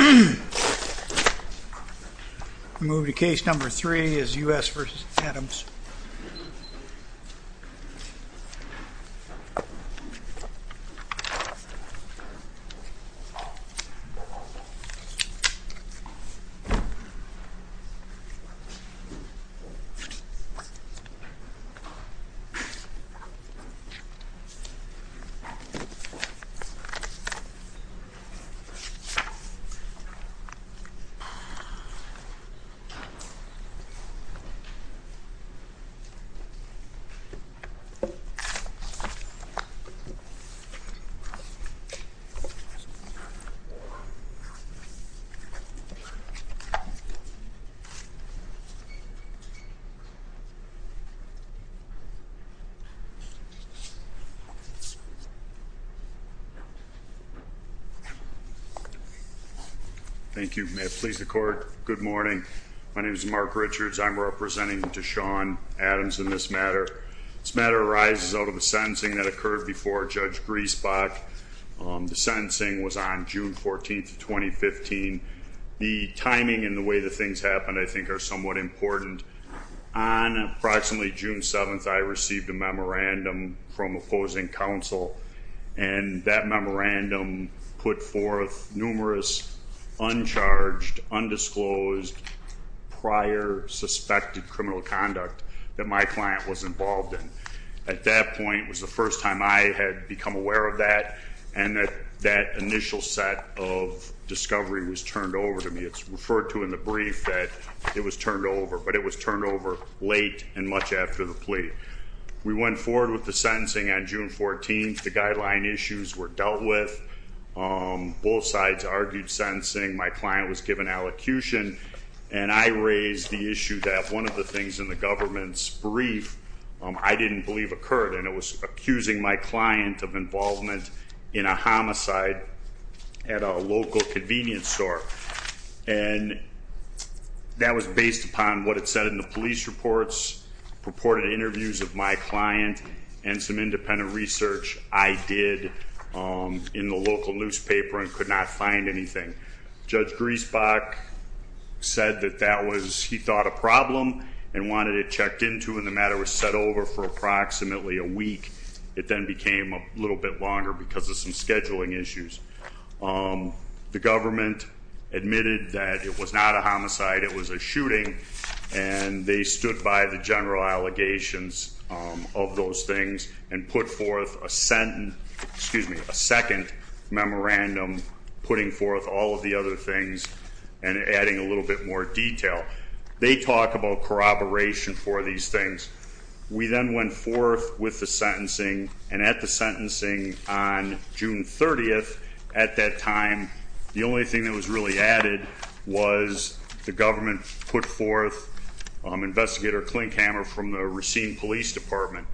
We move to case number three, U.S. v. Adams. Case number three, U.S. v. Adams. Thank you. May it please the court. Good morning. My name is Mark Richards. I'm representing Deshon Adams in this matter. This matter arises out of a sentencing that occurred before Judge Griesbach. The sentencing was on June 14th, 2015. The timing and the way the things happened, I think, are somewhat important. On approximately June 7th, I received a memorandum from opposing counsel. And that memorandum put forth numerous uncharged, undisclosed, prior suspected criminal conduct that my client was involved in. At that point, it was the first time I had become aware of that. And that initial set of discovery was turned over to me. It's referred to in the brief that it was turned over. But it was turned over late and much after the plea. We went forward with the sentencing on June 14th. The guideline issues were dealt with. Both sides argued sentencing. My client was given allocution. And I raised the issue that one of the things in the government's brief I didn't believe occurred. And it was accusing my client of involvement in a homicide at a local convenience store. And that was based upon what it said in the police reports, purported interviews of my client, and some independent research I did in the local newspaper and could not find anything. Judge Griesbach said that that was, he thought, a problem and wanted it checked into. And the matter was set over for approximately a week. It then became a little bit longer because of some scheduling issues. The government admitted that it was not a homicide, it was a shooting, and they stood by the general allegations of those things and put forth a second memorandum putting forth all of the other things and adding a little bit more detail. They talk about corroboration for these things. We then went forth with the sentencing. And at the sentencing on June 30th, at that time, the only thing that was really added was the government put forth Investigator Klinkhammer from the Racine Police Department.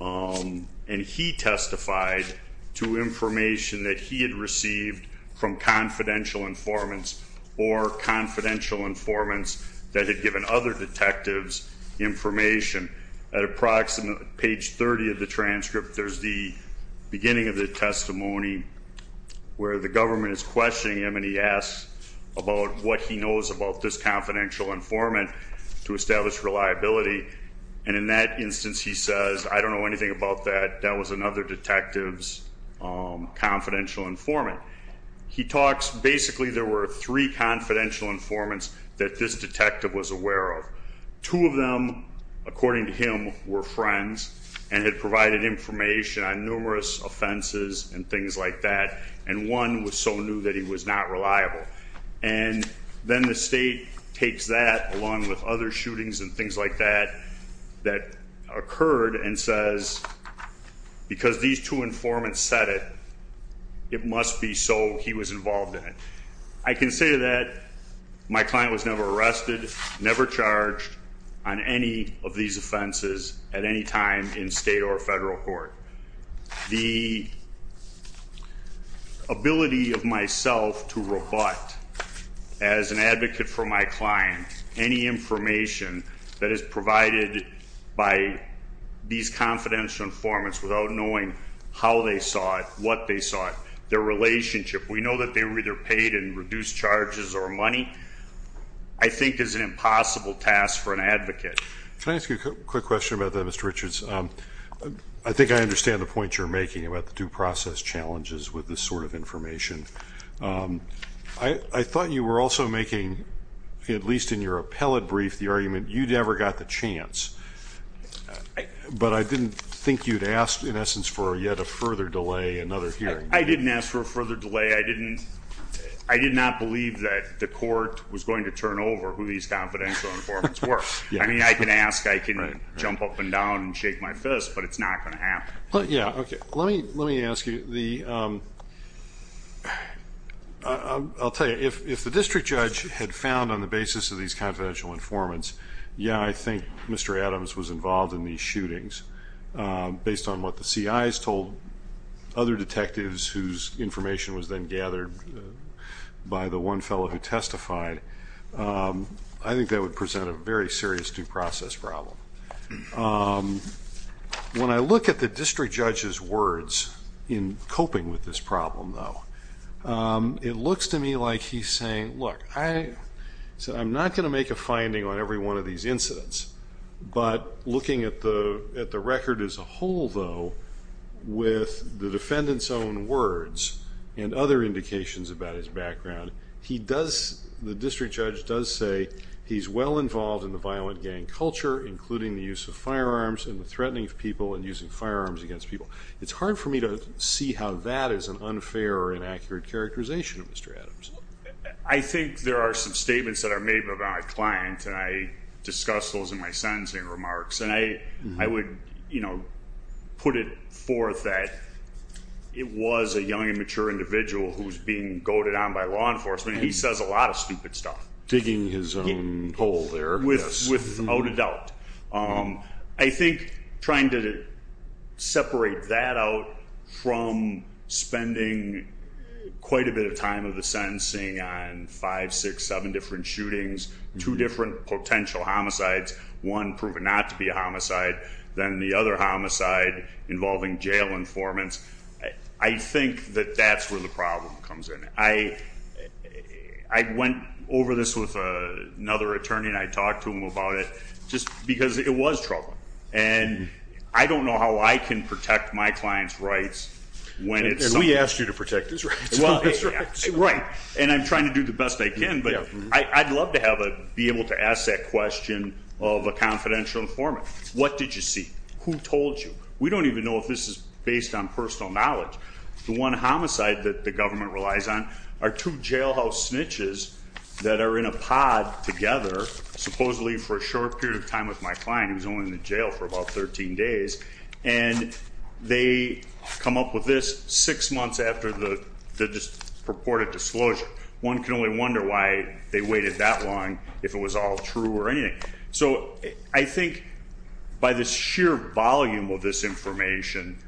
And he testified to information that he had received from confidential informants or confidential informants that had given other detectives information. At approximately page 30 of the transcript, there's the beginning of the testimony where the government is questioning him, and he asks about what he knows about this confidential informant to establish reliability. And in that instance, he says, I don't know anything about that. That was another detective's confidential informant. He talks, basically there were three confidential informants that this detective was aware of. Two of them, according to him, were friends and had provided information on numerous offenses and things like that. And one was so new that he was not reliable. And then the state takes that along with other shootings and things like that that occurred and says, because these two informants said it, it must be so he was involved in it. I can say that my client was never arrested, never charged on any of these offenses at any time in state or federal court. The ability of myself to rebut as an advocate for my client any information that is provided by these confidential informants without knowing how they saw it, what they saw it, their relationship, we know that they were either paid in reduced charges or money, I think is an impossible task for an advocate. Can I ask you a quick question about that, Mr. Richards? I think I understand the point you're making about the due process challenges with this sort of information. I thought you were also making, at least in your appellate brief, the argument you never got the chance. But I didn't think you'd ask, in essence, for yet a further delay, another hearing. I didn't ask for a further delay. I did not believe that the court was going to turn over who these confidential informants were. I mean, I can ask, I can jump up and down and shake my fist, but it's not going to happen. Let me ask you. I'll tell you, if the district judge had found on the basis of these confidential informants, yeah, I think Mr. Adams was involved in these shootings, based on what the CIs told other detectives whose information was then gathered by the one fellow who testified, I think that would present a very serious due process problem. When I look at the district judge's words in coping with this problem, though, it looks to me like he's saying, look, I'm not going to make a finding on every one of these incidents. But looking at the record as a whole, though, with the defendant's own words and other indications about his background, the district judge does say he's well involved in the violent gang culture, including the use of firearms and the threatening of people and using firearms against people. It's hard for me to see how that is an unfair or inaccurate characterization of Mr. Adams. I think there are some statements that are made about my client, and I discuss those in my sentencing remarks. And I would, you know, put it forth that it was a young and mature individual who was being goaded on by law enforcement. He says a lot of stupid stuff. Digging his own hole there. Without a doubt. I think trying to separate that out from spending quite a bit of time of the sentencing on five, six, seven different shootings, two different potential homicides, one proven not to be a homicide, then the other homicide involving jail informants, I think that that's where the problem comes in. I went over this with another attorney and I talked to him about it. Just because it was troubling. And I don't know how I can protect my client's rights. And we asked you to protect his rights. Right. And I'm trying to do the best I can, but I'd love to be able to ask that question of a confidential informant. What did you see? Who told you? We don't even know if this is based on personal knowledge. The one homicide that the government relies on are two jailhouse snitches that are in a pod together, supposedly for a short period of time with my client who was only in the jail for about 13 days. And they come up with this six months after the purported disclosure. One can only wonder why they waited that long if it was all true or anything. So I think by the sheer volume of this information,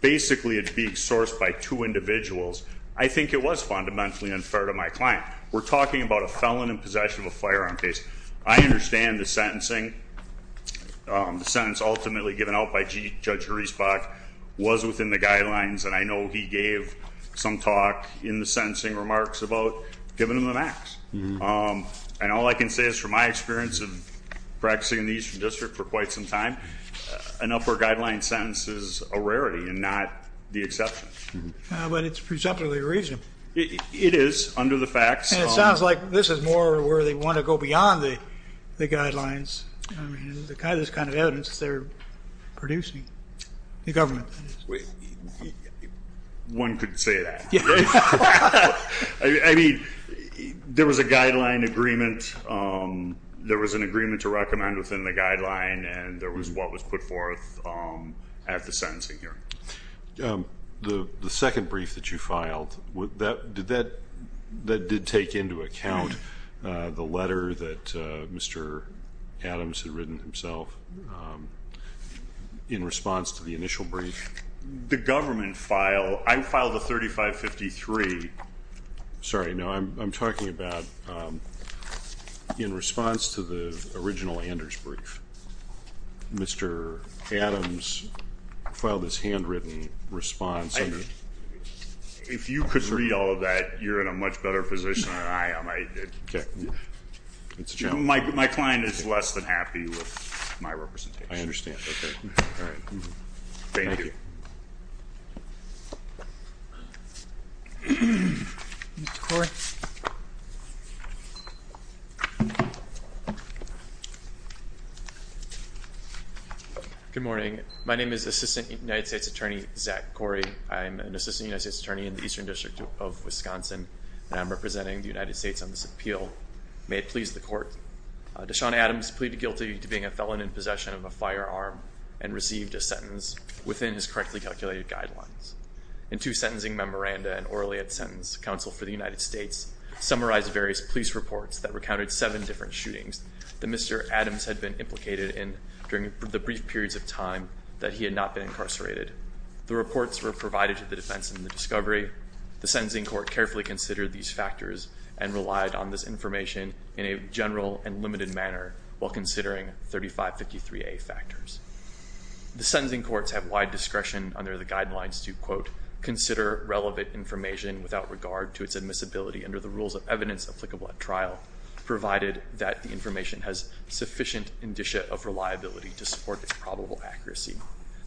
basically it's being sourced by two individuals. I think it was fundamentally unfair to my client. We're talking about a felon in possession of a firearm case. I understand the sentencing, the sentence ultimately given out by Judge Hriesbach was within the guidelines. And I know he gave some talk in the sentencing remarks about giving him the max. And all I can say is from my experience of practicing in the Eastern District for quite some time, an upper guideline sentence is a rarity and not the exception. But it's presumptively reasonable. It is under the facts. And it sounds like this is more where they want to go beyond the guidelines, this kind of evidence that they're producing, the government. One could say that. I mean, there was a guideline agreement. There was an agreement to recommend within the guideline. And there was what was put forth at the sentencing hearing. The second brief that you filed, did that take into account the letter that Mr. Adams had written himself in response to the initial brief? The government file, I filed a 3553. Sorry, no, I'm talking about in response to the original Anders brief. Mr. Adams filed his handwritten response. If you could read all of that, you're in a much better position than I am. My client is less than happy with my representation. I understand. Okay. All right. Thank you. Corey. Good morning. My name is Assistant United States Attorney Zach Corey. I'm an Assistant United States Attorney in the Eastern District of Wisconsin, and I'm representing the United States on this appeal. May it please the court. Dashaun Adams pleaded guilty to being a felon in possession of a firearm and received a sentence within his correctly calculated guidelines. In two sentencing memoranda and orally at sentence, counsel for the United States summarized various police reports that recounted seven different shootings that Mr. Adams had been implicated in during the brief periods of time that he had not been incarcerated. The reports were provided to the defense in the discovery. The sentencing court carefully considered these factors and relied on this information in a general and limited manner while considering 3553A factors. The sentencing courts have wide discretion under the guidelines to, quote, consider relevant information without regard to its admissibility under the rules of evidence applicable at trial, provided that the information has sufficient indicia of reliability to support its probable accuracy.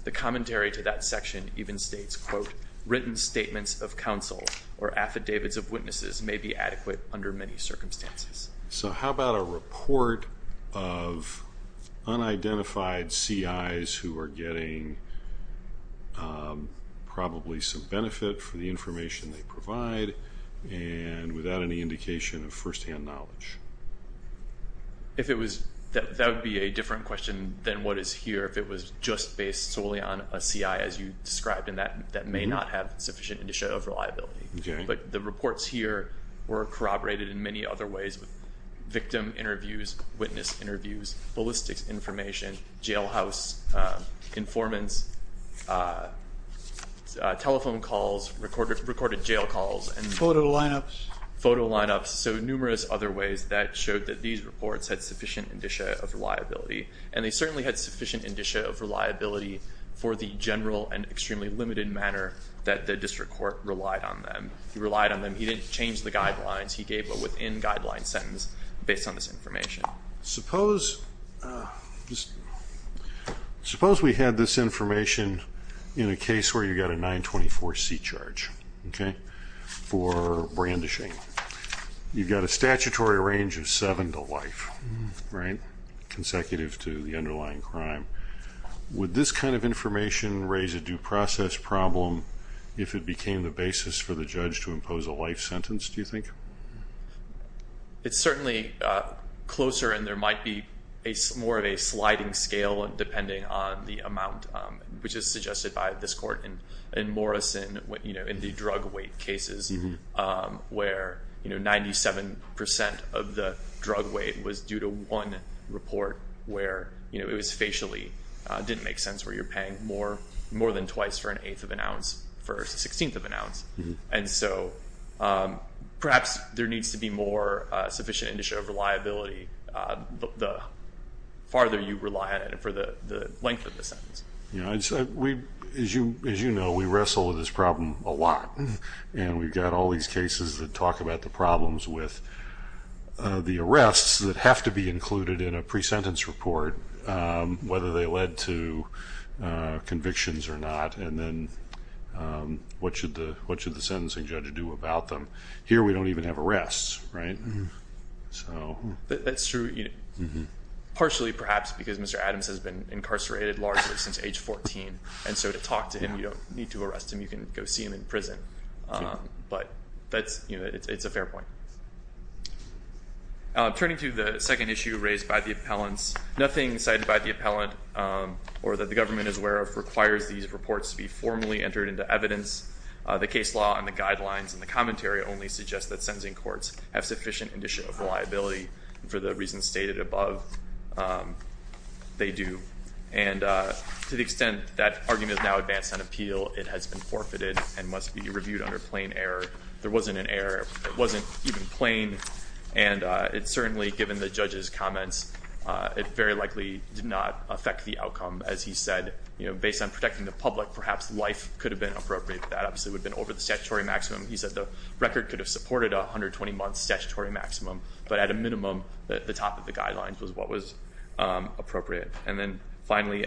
The commentary to that section even states, quote, written statements of counsel or affidavits of witnesses may be adequate under many circumstances. So how about a report of unidentified CIs who are getting probably some benefit for the information they provide and without any indication of firsthand knowledge? If it was, that would be a different question than what is here. If it was just based solely on a CI as you described in that, that may not have sufficient indicia of reliability. But the reports here were corroborated in many other ways, victim interviews, witness interviews, ballistics information, jailhouse informants, telephone calls, recorded jail calls. Photo lineups. Photo lineups. So numerous other ways that showed that these reports had sufficient indicia of reliability. And they certainly had sufficient indicia of reliability for the general and extremely limited manner that the district court relied on them. He relied on them. He didn't change the guidelines. Now, suppose we had this information in a case where you got a 924C charge for brandishing. You've got a statutory range of seven to life, right, consecutive to the underlying crime. Would this kind of information raise a due process problem if it became the basis for the judge to impose a life sentence, do you think? It's certainly closer and there might be more of a sliding scale depending on the amount, which is suggested by this court in Morrison in the drug weight cases where 97 percent of the drug weight was due to one report where it was facially. It didn't make sense where you're paying more than twice for an eighth of an ounce for a sixteenth of an ounce. And so perhaps there needs to be more sufficient indicia of reliability the farther you rely on it for the length of the sentence. As you know, we wrestle with this problem a lot. And we've got all these cases that talk about the problems with the arrests that have to be included in a pre-sentence report, whether they led to convictions or not, and then what should the sentencing judge do about them. Here we don't even have arrests, right? That's true, partially perhaps because Mr. Adams has been incarcerated largely since age 14, and so to talk to him you don't need to arrest him, you can go see him in prison. But it's a fair point. Turning to the second issue raised by the appellants, nothing cited by the appellant or that the government is aware of requires these reports to be formally entered into evidence. The case law and the guidelines and the commentary only suggest that sentencing courts have sufficient indicia of reliability, and for the reasons stated above, they do. And to the extent that argument is now advanced on appeal, it has been forfeited and must be reviewed under plain error. There wasn't an error. It wasn't even plain. And it certainly, given the judge's comments, it very likely did not affect the outcome. As he said, based on protecting the public, perhaps life could have been appropriate. That obviously would have been over the statutory maximum. He said the record could have supported a 120-month statutory maximum, but at a minimum the top of the guidelines was what was appropriate. And then finally,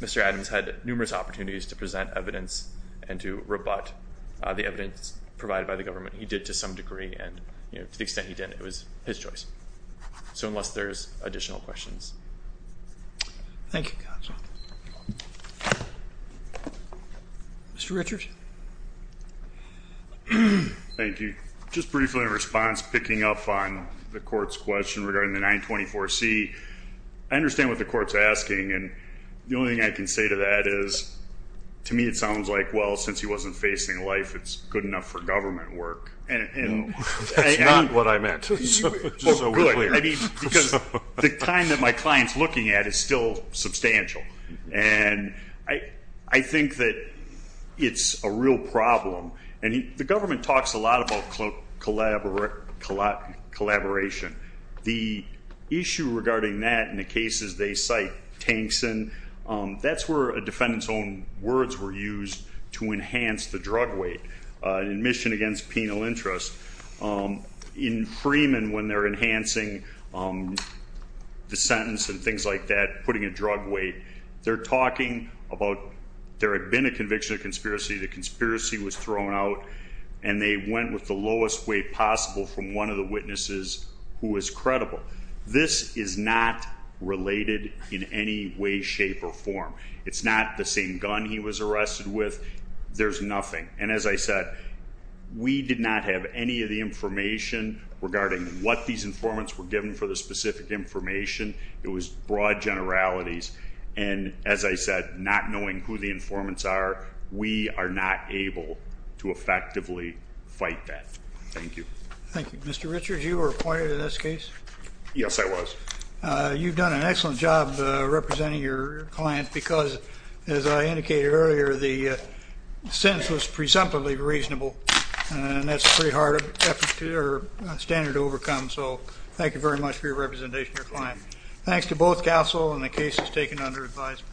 Mr. Adams had numerous opportunities to present evidence and to rebut the evidence provided by the government. He did to some degree, and to the extent he did, it was his choice. So unless there's additional questions. Thank you, counsel. Mr. Richards. Thank you. Just briefly in response, picking up on the court's question regarding the 924C, I understand what the court's asking, and the only thing I can say to that is to me it sounds like, well, since he wasn't facing life, it's good enough for government work. That's not what I meant. Oh, good. Because the kind that my client's looking at is still substantial. And I think that it's a real problem. And the government talks a lot about collaboration. The issue regarding that in the cases they cite Tankson, that's where a defendant's own words were used to enhance the drug weight, admission against penal interest. In Freeman, when they're enhancing the sentence and things like that, putting a drug weight, they're talking about there had been a conviction of conspiracy, the conspiracy was thrown out, and they went with the lowest weight possible from one of the witnesses who was credible. This is not related in any way, shape, or form. It's not the same gun he was arrested with. There's nothing. And as I said, we did not have any of the information regarding what these informants were given for the specific information. It was broad generalities. And as I said, not knowing who the informants are, we are not able to effectively fight that. Thank you. Thank you. Mr. Richards, you were appointed in this case? Yes, I was. You've done an excellent job representing your client because, as I indicated earlier, the sentence was presumptively reasonable, and that's a pretty hard standard to overcome. So thank you very much for your representation of your client. Thanks to both CASEL and the cases taken under advisement.